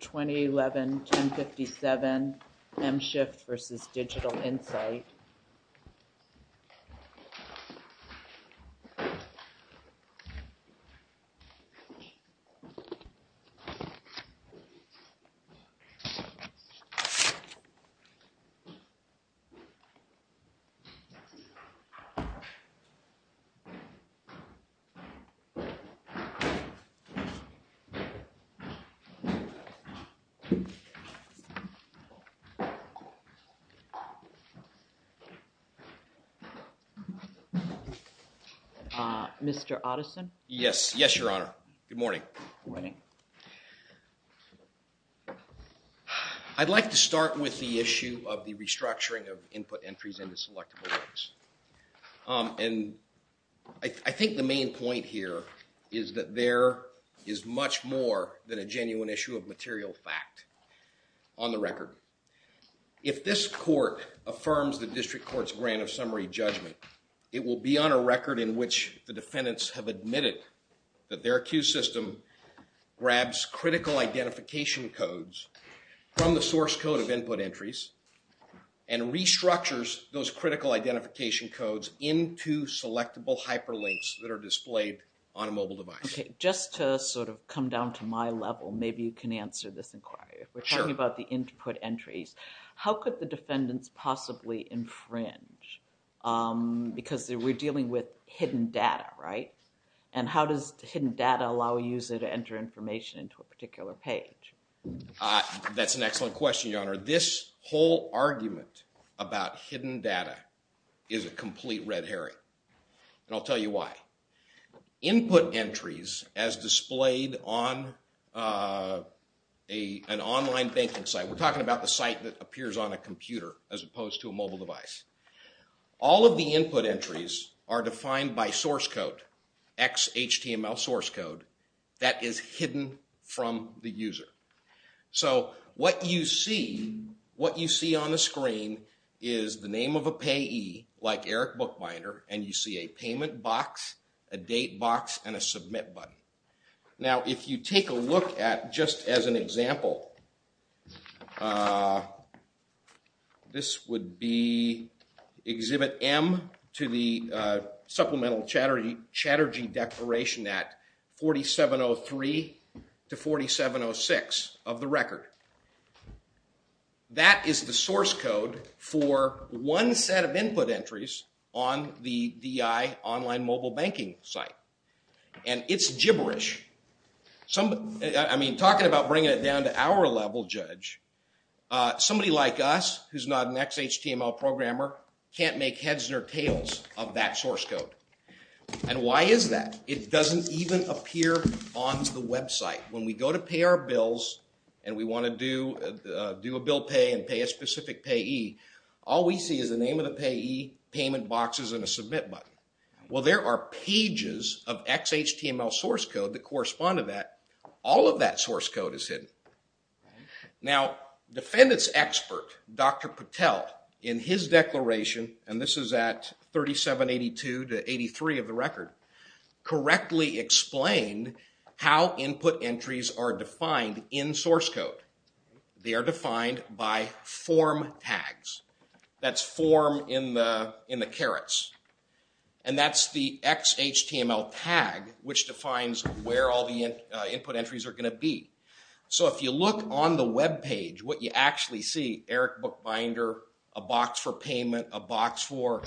2011-1057 MSHIFT v. DIGITAL INSIGHT Mr. Otteson? Yes. Yes, Your Honor. Good morning. Good morning. I'd like to start with the issue of the restructuring of input entries into selectable is that there is much more than a genuine issue of material fact on the record. If this court affirms the district court's grant of summary judgment, it will be on a record in which the defendants have admitted that their accused system grabs critical identification codes from the source code of input entries and restructures those on a mobile device. Just to sort of come down to my level, maybe you can answer this inquiry. We're talking about the input entries. How could the defendants possibly infringe? Because we're dealing with hidden data, right? And how does hidden data allow a user to enter information into a particular page? That's an excellent question, Your Honor. This whole argument about hidden data is a complete red herring. And I'll tell you why. Input entries as displayed on an online banking site, we're talking about the site that appears on a computer as opposed to a mobile device. All of the input entries are defined by source code, XHTML source code that is hidden from the user. So what you see, what you see on the screen is the name of a payee like Eric Bookbinder, and you see a payment box, a date box, and a submit button. Now, if you take a look at just as an example, this would be Exhibit M to the Supplemental Chatterjee Declaration at 4703 to 4706 of the DEI online mobile banking site. And it's gibberish. I mean, talking about bringing it down to our level, Judge, somebody like us who's not an XHTML programmer can't make heads or tails of that source code. And why is that? It doesn't even appear on the website. When we go to pay our bills and we want to do a bill pay and pay a specific payee, all we see is the name of the payee, payment boxes, and a submit button. Well, there are pages of XHTML source code that correspond to that. All of that source code is hidden. Now, defendants expert, Dr. Patel, in his declaration, and this is at 3782 to 83 of the record, correctly explained how input entries are defined in source code. They are defined by form tags. That's form in the carets. And that's the XHTML tag which defines where all the input entries are going to be. So if you look on the web page, what you actually see, Eric Bookbinder, a box for payment, a box for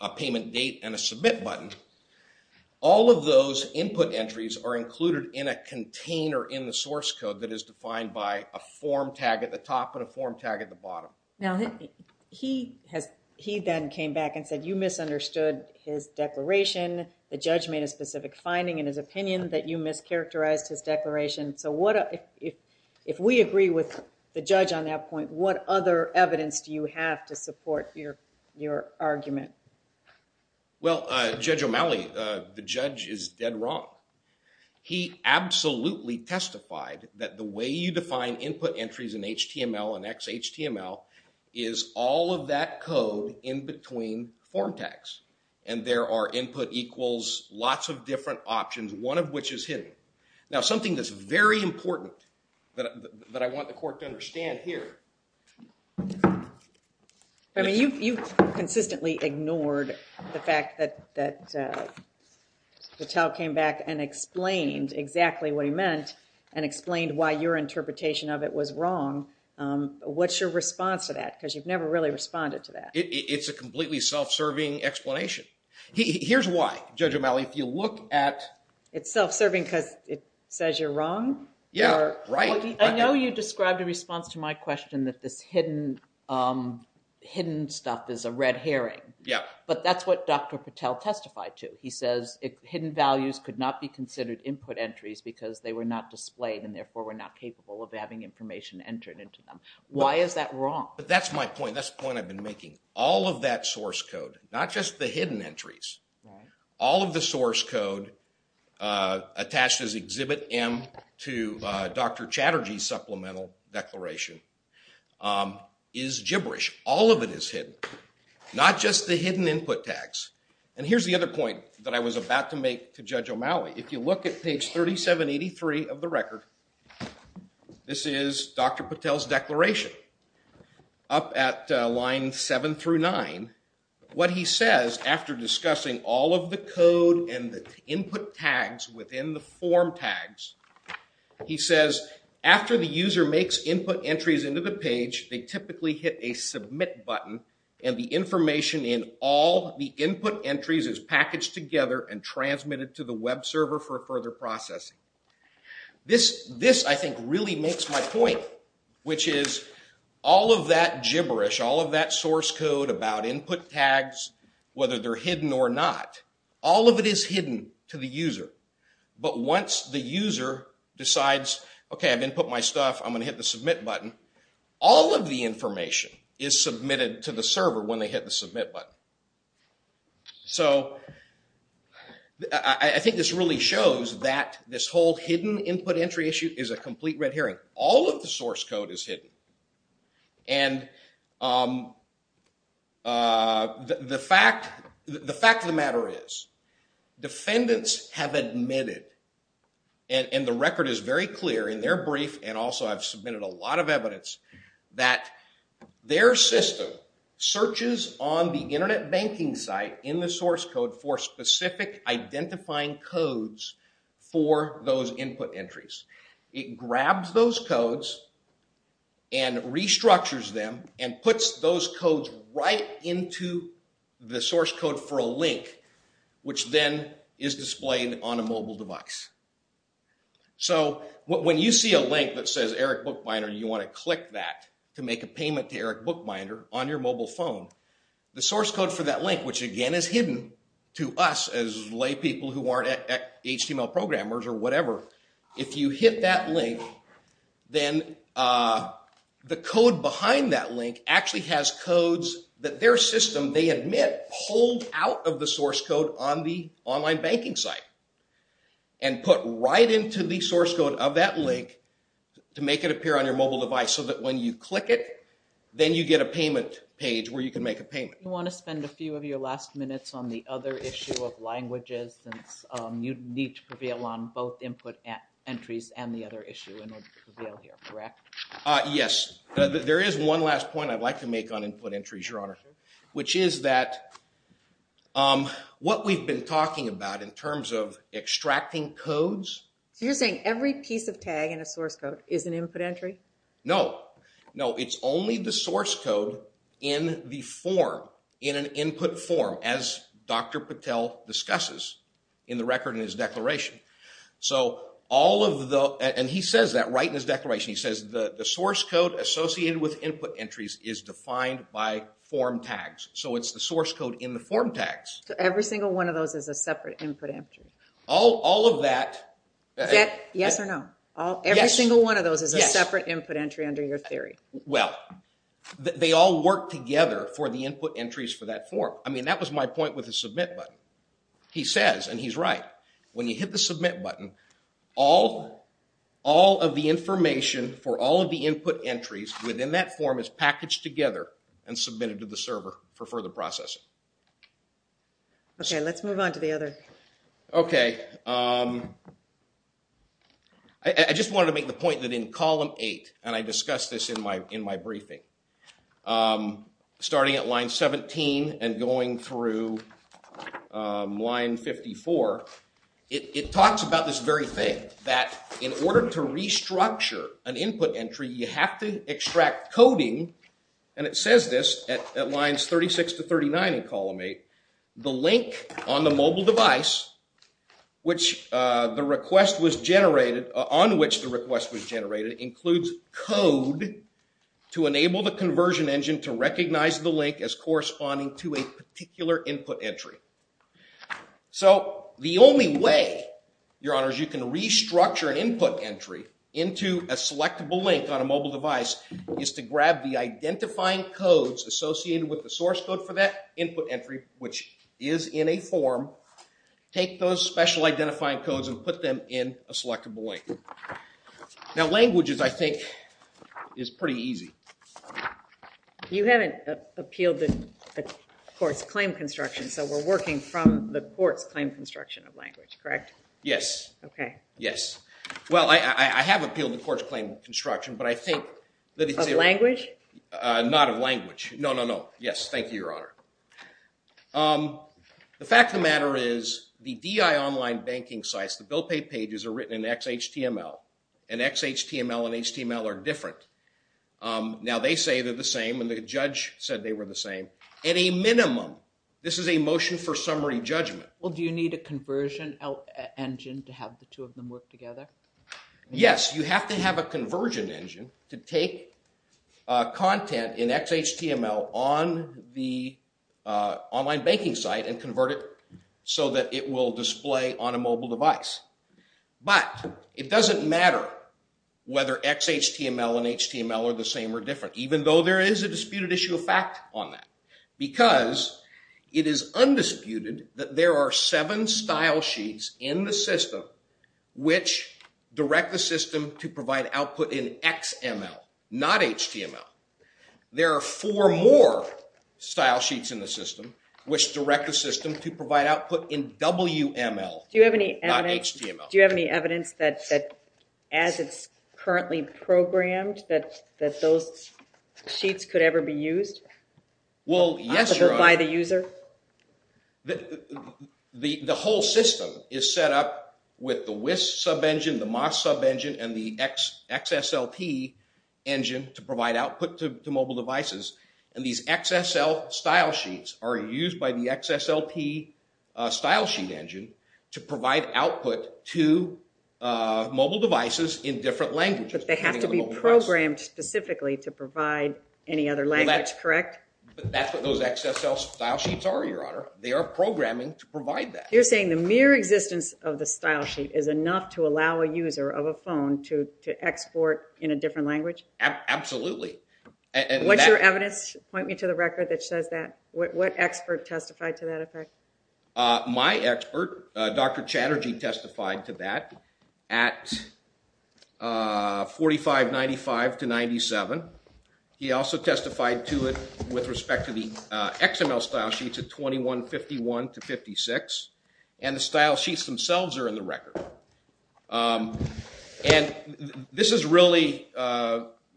a payment date, and a submit button, all of those input entries are included in a container in the source code that is defined by a form tag at the top and a form tag at the bottom. Now, he then came back and said you misunderstood his declaration. The judge made a specific finding in his opinion that you mischaracterized his declaration. So if we agree with the judge on that point, what other evidence do you have to support your argument? Well, Judge O'Malley, the judge is dead wrong. He absolutely testified that the way you define input entries in HTML and XHTML is all of that code in between form tags. And there are input equals lots of different options, one of which is hidden. Now, something that's very important that I want the court to understand here. I mean, you've consistently ignored the fact that Patel came back and explained exactly what he meant and explained why your interpretation of it was wrong. What's your response to that? Because you've never really responded to that. It's a completely self-serving explanation. Here's why, Judge O'Malley, if you look at... It's self-serving because it says you're wrong? Yeah, right. I know you described a response to my question that this hidden stuff is a red herring. But that's what Dr. Patel testified to. He says hidden values could not be considered input entries because they were not displayed and therefore were not capable of having information entered into them. Why is that wrong? But that's my point. That's the point I've been making. All of that source code, not just the hidden entries, all of the source code attached as Exhibit M to Dr. Chatterjee's supplemental declaration is gibberish. All of it is hidden, not just the hidden input tags. And here's the other point that I was about to make to Judge O'Malley. If you look at page 3783 of the record, this is Dr. Patel's declaration. Up at line 7 through 9, what he says after discussing all of the code and the input tags within the form tags, he says, after the user makes input entries into the page, they typically hit a submit button and the information in all the input entries is packaged together and transmitted to the web server for further processing. This, I think, really makes my point, which is all of that gibberish, all of that source code about input tags, whether they're hidden or not, all of it is hidden to the user. But once the user decides, okay, I've input my stuff, I'm going to hit the submit button, all of the information is submitted to the server when they hit the submit button. So I think this really shows that this whole hidden input entry issue is a complete red herring. All of the source code is hidden. And the fact of the matter is defendants have admitted, and the record is very clear in their brief, and also I've submitted a lot of evidence, that their system searches on the internet banking site in the source code for specific identifying codes for those input entries. It grabs those codes and restructures them and puts those codes right into the source code for a link, which then is displayed on a mobile device. So when you see a link that says Eric Bookbinder, you want to click that to make a payment to Eric Bookbinder on your mobile phone, the source code for that link, which again is hidden to us as lay people who aren't HTML programmers or whatever, if you hit that link, then the code behind that link actually has codes that their system, they admit, pulled out of the source code on the online banking site. And put right into the source code of that link to make it appear on your mobile device, so that when you click it, then you get a payment page where you can make a payment. You want to spend a few of your last minutes on the other issue of languages, since you need to prevail on both input entries and the other issue in order to prevail here, correct? Yes, there is one last point I'd like to make on input entries, Your Honor, which is that what we've been talking about in terms of extracting codes. So you're saying every piece of tag in a source code is an input entry? No, no, it's only the source code in the form, in an input form, as Dr. Patel discusses in the record in his declaration. So all of the, and he says that right in his declaration, he says the source code associated with input entries is defined by form tags. So it's the source code in the form tags. So every single one of those is a separate input entry? All of that. Yes or no? Every single one of those is a separate input entry under your theory. Well, they all work together for the input entries for that form. I mean, that was my point with the submit button. He says, and he's right, when you hit the submit button, all of the information for all of the input entries within that form is packaged together and submitted to the server for further processing. OK, let's move on to the other. OK, I just wanted to make the point that in column 8, and I discussed this in my briefing, starting at line 17 and going through line 54, it talks about this very thing, that in order to restructure an input entry, you have to extract coding, and it says this at lines 36 to 39 in column 8, the link on the mobile device on which the request was generated includes code to enable the conversion engine to recognize the link as corresponding to a particular input entry. So the only way, Your Honors, you can restructure an input entry into a selectable link on a mobile device is to grab the identifying codes associated with the source code for that input entry, which is in a form, take those special identifying codes, and put them in a selectable link. Now languages, I think, is pretty easy. You haven't appealed the court's claim construction, so we're working from the court's claim construction of language, correct? Yes. OK. Yes. Well, I have appealed the court's claim construction, but I think that it's... Of language? Not of language. No, no, no. Yes, thank you, Your Honor. The fact of the matter is the DI online banking sites, the bill pay pages are written in XHTML, and XHTML and HTML are different. Now they say they're the same, and the judge said they were the same. At a minimum, this is a motion for summary judgment. Well, do you need a conversion engine to have the two of them work together? Yes, you have to have a conversion engine to take content in XHTML on the online banking site, and convert it so that it will display on a mobile device. But it doesn't matter whether XHTML and HTML are the same or different, even though there is a disputed issue of fact on that, because it is undisputed that there are seven style sheets in the system which direct the system to provide output in XML, not HTML. There are four more style sheets in the system which direct the system to provide output in WML, not HTML. Do you have any evidence that as it's currently programmed, that those sheets could ever be used by the user? The whole system is set up with the WIS sub-engine, the MOS sub-engine, and the XSLP engine to provide output to mobile devices. And these XSL style sheets are used by the XSLP style sheet engine to provide output to mobile devices in different languages. But they have to be programmed specifically to provide any other language, correct? That's what those XSL style sheets are, Your Honor. They are programming to provide that. You're saying the mere existence of the style sheet is enough to allow a user of a phone to export in a different language? Absolutely. What's your evidence? Point me to the record that says that. What expert testified to that effect? My expert, Dr. Chatterjee, testified to that at 4595 to 97. He also testified to it with respect to the XML style sheets at 2151 to 56. And the style sheets themselves are in the record. And this is really,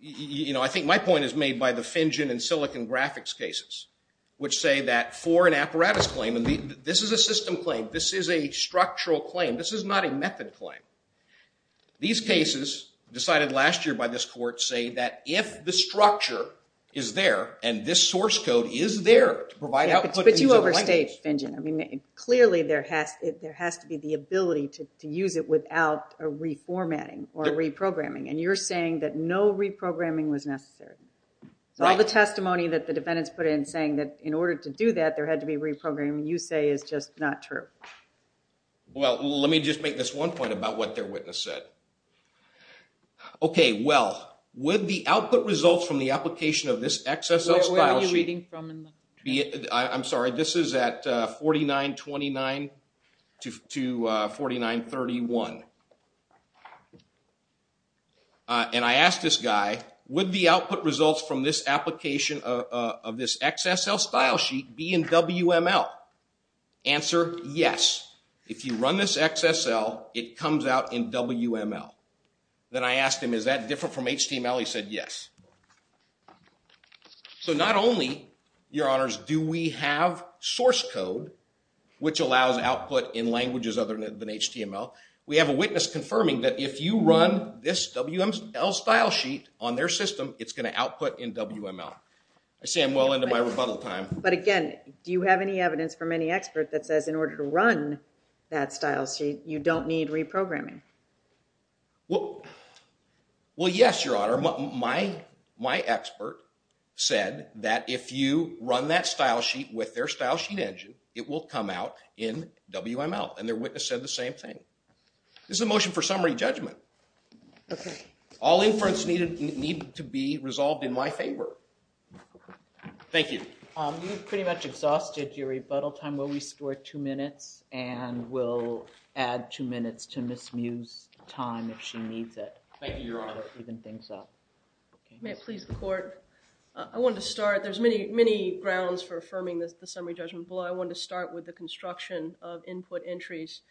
you know, I think my point is made by the FinGen and Silicon Graphics cases, which say that for an apparatus claim, and this is a system claim, this is a structural claim, this is not a method claim. These cases, decided last year by this court, say that if the structure is there, and this source code is there to provide output. But you overstate FinGen. I mean, clearly there has to be the ability to use it without a reformatting or reprogramming. And you're saying that no reprogramming was necessary. So all the testimony that the defendants put in saying that in order to do that, there had to be reprogramming, you say is just not true. Well, let me just make this one point about what their witness said. Okay, well, would the output results from the application of this XSL style sheet... Where are you reading from in the transcript? I'm sorry, this is at 4929 to 4931. And I asked this guy, would the output results from this application of this XSL style sheet be in WML? Answer, yes. If you run this XSL, it comes out in WML. Then I asked him, is that different from HTML? He said, yes. So not only, your honors, do we have source code, which allows output in languages other than HTML, we have a witness confirming that if you run this WML style sheet on their system, it's going to output in WML. I see I'm well into my rebuttal time. But again, do you have any evidence from any expert that says in order to run that style sheet, you don't need reprogramming? Well, yes, your honor. My expert said that if you run that style sheet with their style sheet engine, it will come out in WML. And their witness said the same thing. This is a motion for summary judgment. All inference needed to be resolved in my favor. Thank you. We've pretty much exhausted your rebuttal time. Will we score two minutes? And we'll add two minutes to Ms. Mu's time if she needs it. Thank you, your honor. To even things up. May it please the court. I wanted to start. There's many, many grounds for affirming the summary judgment. But I wanted to start with the construction of input entries.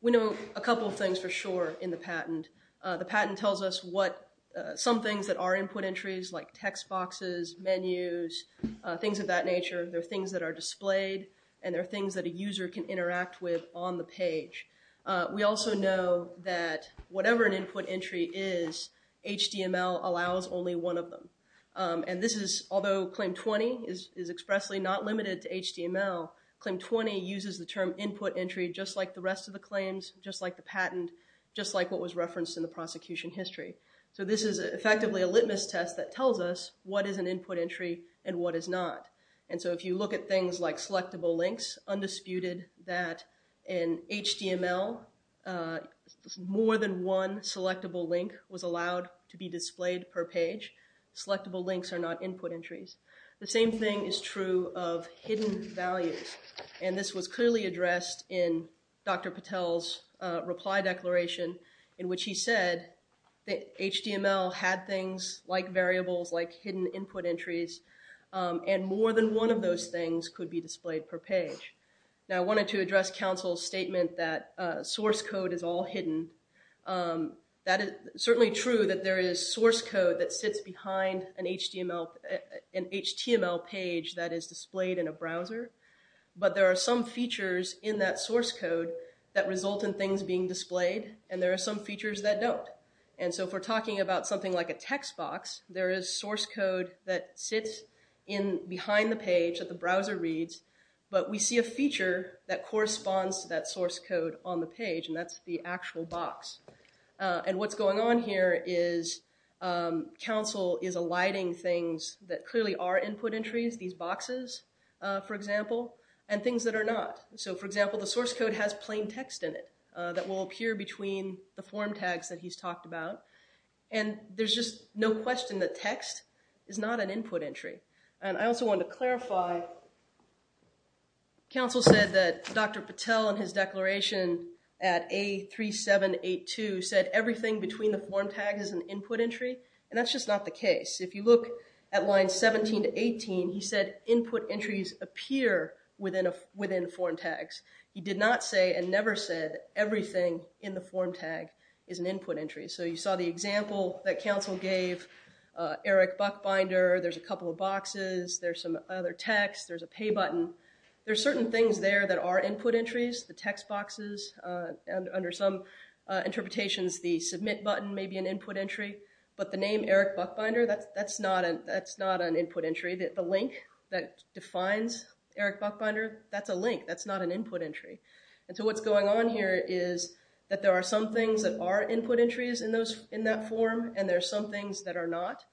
We know a couple of things for sure in the patent. The patent tells us some things that are input entries, like text boxes, menus, things of that nature. There are things that are displayed. And there are things that a user can interact with on the page. We also know that whatever an input entry is, HTML allows only one of them. And this is, although Claim 20 is expressly not limited to HTML, Claim 20 uses the term input entry just like the rest of the claims, just like the patent, just like what was referenced in the prosecution history. So this is effectively a litmus test that tells us what is an input entry and what is not. And so if you look at things like selectable links, undisputed that in HTML, more than one selectable link was allowed to be displayed per page. Selectable links are not input entries. The same thing is true of hidden values. And this was clearly addressed in Dr. Patel's reply declaration, in which he said that HTML had things like variables, like hidden input entries, and more than one of those things could be displayed per page. Now, I wanted to address counsel's statement that source code is all hidden. That is certainly true that there is source code that sits behind an HTML page that is displayed in a browser. But there are some features in that source code that result in things being displayed. And there are some features that don't. And so if we're talking about something like a text box, there is source code that sits in behind the page that the browser reads. But we see a feature that corresponds to that source code on the page, and that's the actual box. And what's going on here is counsel is alighting things that clearly are input entries, these boxes, for example, and things that are not. So for example, the source code has plain text in it that will appear between the form tags that he's talked about. And there's just no question that text is not an input entry. And I also wanted to clarify, counsel said that Dr. Patel and his declaration at A3782 said everything between the form tag is an input entry. And that's just not the case. If you look at line 17 to 18, he said input entries appear within form tags. He did not say and never said everything in the form tag is an input entry. So you saw the example that counsel gave, Eric Buckbinder. There's a couple of boxes. There's some other text. There's a pay button. There's certain things there that are input entries, the text boxes. Under some interpretations, the submit button may be an input entry. But the name Eric Buckbinder, that's not an input entry. The link that defines Eric Buckbinder, that's a link. That's not an input entry. And so what's going on here is that there are some things that are input entries in that form, and there are some things that are not.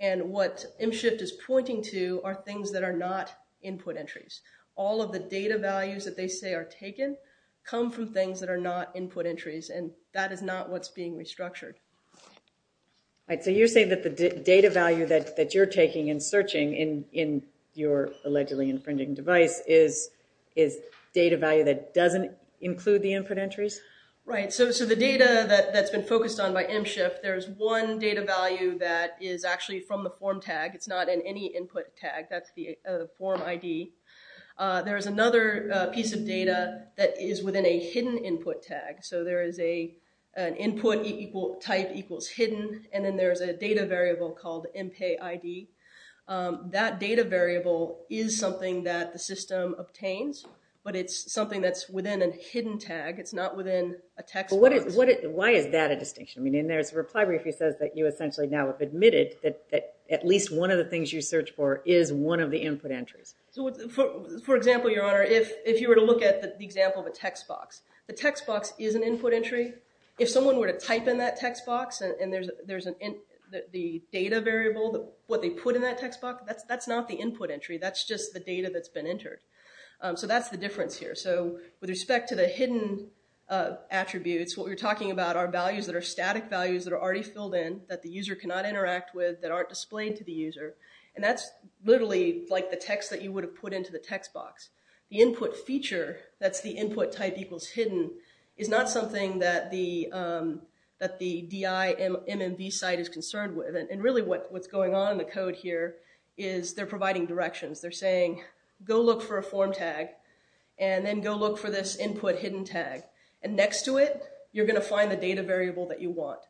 And what mShift is pointing to are things that are not input entries. All of the data values that they say are taken come from things that are not input entries. And that is not what's being restructured. All right. So you're saying that the data value that you're taking and searching in your allegedly infringing device is data value that doesn't include the input entries? Right. So the data that's been focused on by mShift, there's one data value that is actually from the form tag. It's not in any input tag. That's the form ID. There is another piece of data that is within a hidden input tag. So there is an input type equals hidden, and then there's a data variable called mPayID. That data variable is something that the system obtains, but it's something that's within a hidden tag. It's not within a text box. But why is that a distinction? I mean, there's a reply brief that says that you essentially now have admitted that at least one of the things you search for is one of the input entries. So for example, Your Honor, if you were to look at the example of a text box, the text box is an input entry. If someone were to type in that text box and there's the data variable, what they put in that text box, that's not the input entry. That's just the data that's been entered. So that's the difference here. So with respect to the hidden attributes, what we're talking about are values that are static values that are already filled in that the user cannot interact with that aren't displayed to the user. And that's literally like the text that you would have put into the text box. The input feature, that's the input type equals hidden, is not something that the DI MMV site is concerned with. And really what's going on in the code here is they're providing directions. They're saying, go look for a form tag, and then go look for this input hidden tag. And next to it, you're going to find the data variable that you want.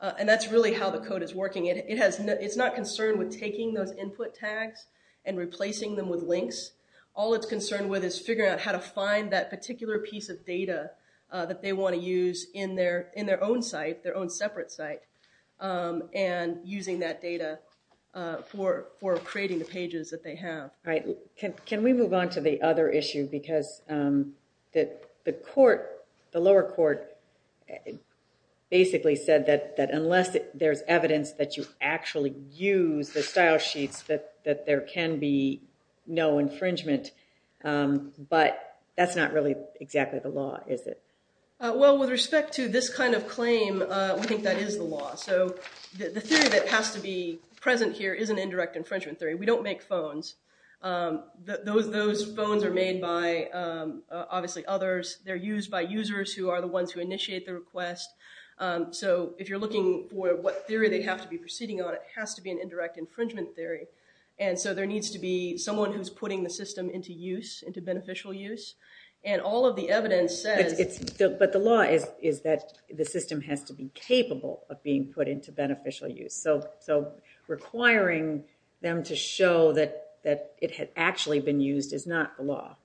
And that's really how the code is working. It's not concerned with taking those input tags and replacing them with links. All it's concerned with is figuring out how to find that particular piece of data that they want to use in their own site, their own separate site, and using that data for creating the pages that they have. Right. Can we move on to the other issue? Because the lower court basically said that unless there's evidence that you actually use the style sheets, that there can be no infringement. But that's not really exactly the law, is it? Well, with respect to this kind of claim, we think that is the law. So the theory that has to be present here is an indirect infringement theory. We don't make phones. Those phones are made by obviously others. They're used by users who are the ones who initiate the request. So if you're looking for what theory they have to be proceeding on, it has to be an indirect infringement theory. And so there needs to be someone who's putting the system into use, into beneficial use. And all of the evidence says... But the law is that the system has to be capable of being put into beneficial use. So requiring them to show that it had actually been used is not the law.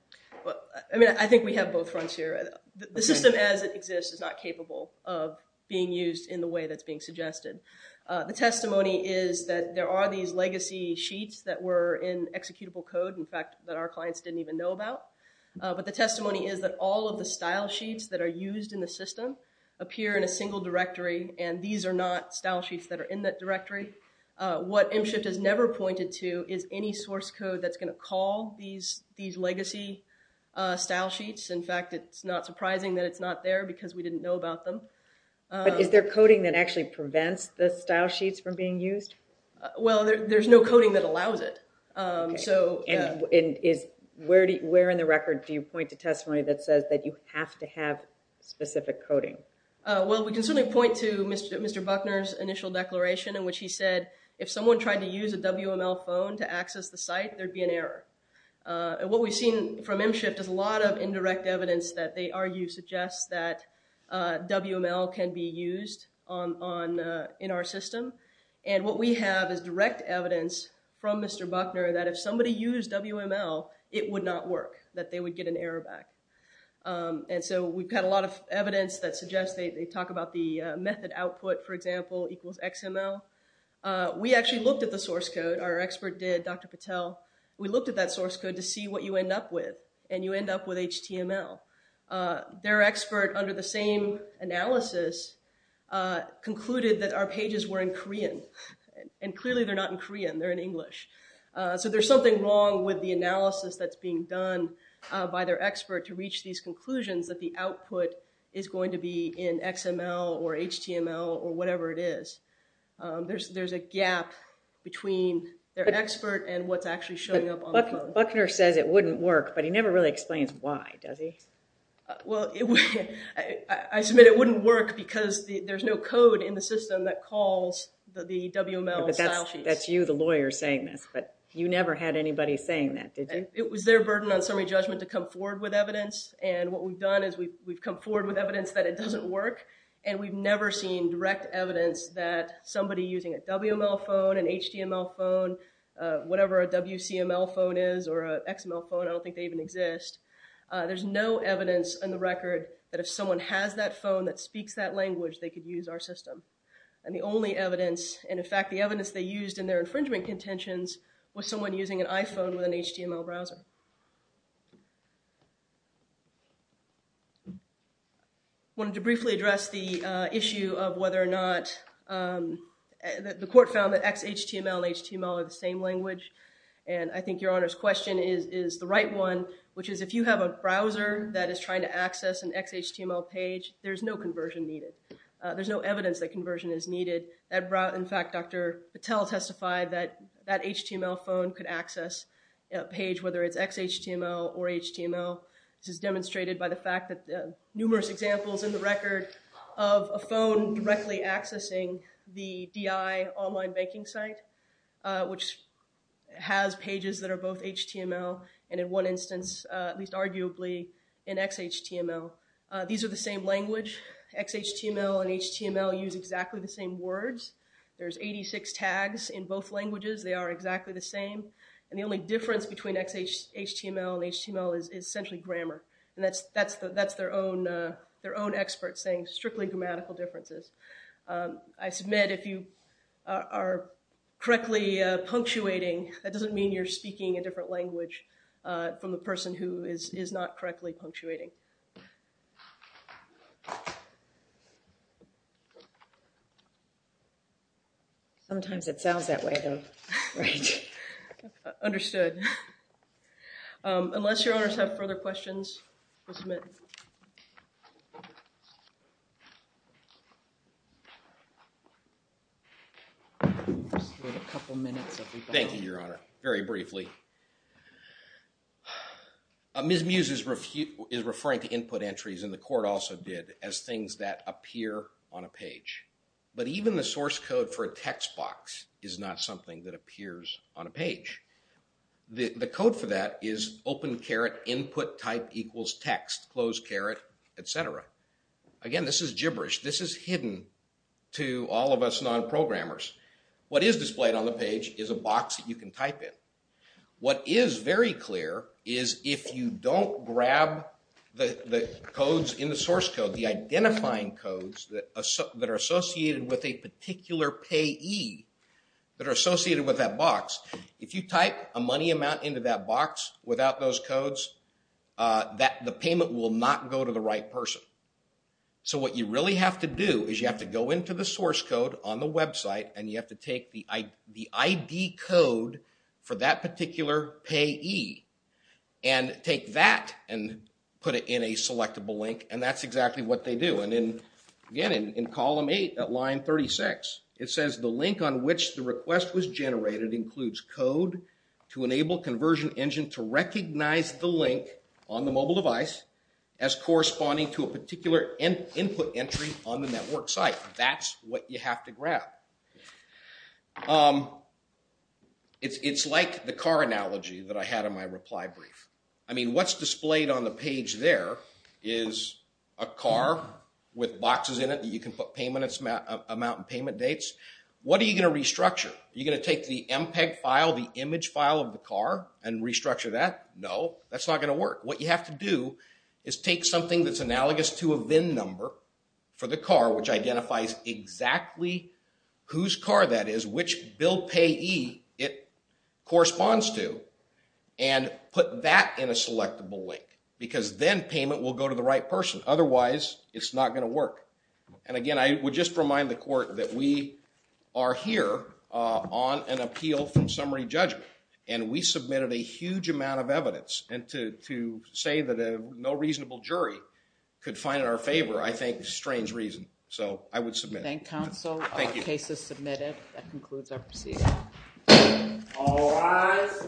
I mean, I think we have both fronts here. The system as it exists is not capable of being used in the way that's being suggested. The testimony is that there are these legacy sheets that were in executable code, in fact, that our clients didn't even know about. But the testimony is that all of the style sheets that are used in the system appear in a single directory. And these are not style sheets that are in that directory. What MShift has never pointed to is any source code that's going to call these legacy style sheets. In fact, it's not surprising that it's not there because we didn't know about them. But is there coding that actually prevents the style sheets from being used? Well, there's no coding that allows it. So where in the record do you point to testimony that says that you have to have specific coding? Well, we can certainly point to Mr. Buckner's initial declaration in which he said, if someone tried to use a WML phone to access the site, there'd be an error. What we've seen from MShift is a lot of indirect evidence that they argue suggests that WML can be used in our system. And what we have is direct evidence from Mr. Buckner that if somebody used WML, it would not work, that they would get an error back. And so we've got a lot of evidence that suggests they talk about the method output, for example, equals XML. We actually looked at the source code. Our expert did, Dr. Patel. We looked at that source code to see what you end up with. And you end up with HTML. Their expert, under the same analysis, concluded that our pages were in Korean. And clearly, they're not in Korean. They're in English. So there's something wrong with the analysis that's being done by their expert to reach these conclusions that the output is going to be in XML or HTML or whatever it is. There's a gap between their expert and what's actually showing up on the phone. Buckner says it wouldn't work, but he never really explains why, does he? Well, I submit it wouldn't work because there's no code in the system that calls the WML style sheets. But that's you, the lawyer, saying this. But you never had anybody saying that, did you? It was their burden on summary judgment to come forward with evidence. And what we've done is we've come forward with evidence that it doesn't work. And we've never seen direct evidence that somebody using a WML phone, an HTML phone, whatever a WCML phone is or an XML phone, I don't think they even exist. There's no evidence on the record that if someone has that phone that speaks that language, they could use our system. And the only evidence, and in fact, the evidence they used in their infringement contentions was someone using an iPhone with an HTML browser. Wanted to briefly address the issue of whether or not the court found that XHTML and HTML are the same language. And I think Your Honor's question is the right one, which is if you have a browser that is trying to access an XHTML page, there's no conversion needed. There's no evidence that conversion is needed. In fact, Dr. Patel testified that that HTML phone could access a page, whether it's XHTML or HTML. This is demonstrated by the fact that numerous examples in the record of a phone directly accessing the DI online banking site, which has pages that are both HTML and in one instance, at least arguably, in XHTML. These are the same language. XHTML and HTML use exactly the same words. There's 86 tags in both languages. They are exactly the same. And the only difference between XHTML and HTML is essentially grammar. And that's their own experts saying strictly grammatical differences. I submit if you are correctly punctuating, that doesn't mean you're speaking a different language from the person who is not correctly punctuating. Sometimes it sounds that way though, right? Understood. Unless Your Honors have further questions, we'll submit. We have a couple of minutes. Thank you, Your Honor. Very briefly. Ms. Muse is referring to input entries, and the court also did, as things that appear on a page. But even the source code for a text box is not something that appears on a page. The code for that is open caret input type equals text, close caret, et cetera. Again, this is gibberish. This is hidden to all of us non-programmers. What is displayed on the page is a box that you can type in. What is very clear is if you don't grab the codes in the source code, the identifying codes that are associated with a particular payee that are associated with that box, if you type a money amount into that box without those codes, the payment will not go to the right person. So what you really have to do is you have to go into the source code on the website, and you have to take the ID code for that particular payee, and take that and put it in a selectable link, and that's exactly what they do. And again, in column 8 at line 36, it says the link on which the request was generated includes code to enable conversion engine to recognize the link on the mobile device as corresponding to a particular input entry on the network site. That's what you have to grab. It's like the car analogy that I had in my reply brief. I mean, what's displayed on the page there is a car with boxes in it that you can put payment amount and payment dates. What are you going to restructure? Are you going to take the MPEG file, the image file of the car, and restructure that? No, that's not going to work. What you have to do is take something that's analogous to a VIN number for the car, which identifies exactly whose car that is, which bill payee it corresponds to, and put that in a selectable link, because then payment will go to the right person. Otherwise, it's not going to work. And again, I would just remind the court that we are here on an appeal from summary judgment, and we submitted a huge amount of evidence. And to say that no reasonable jury could find it in our favor, I think, is a strange reason. So, I would submit. Thank you, counsel. Thank you. The case is submitted. That concludes our proceeding. All rise.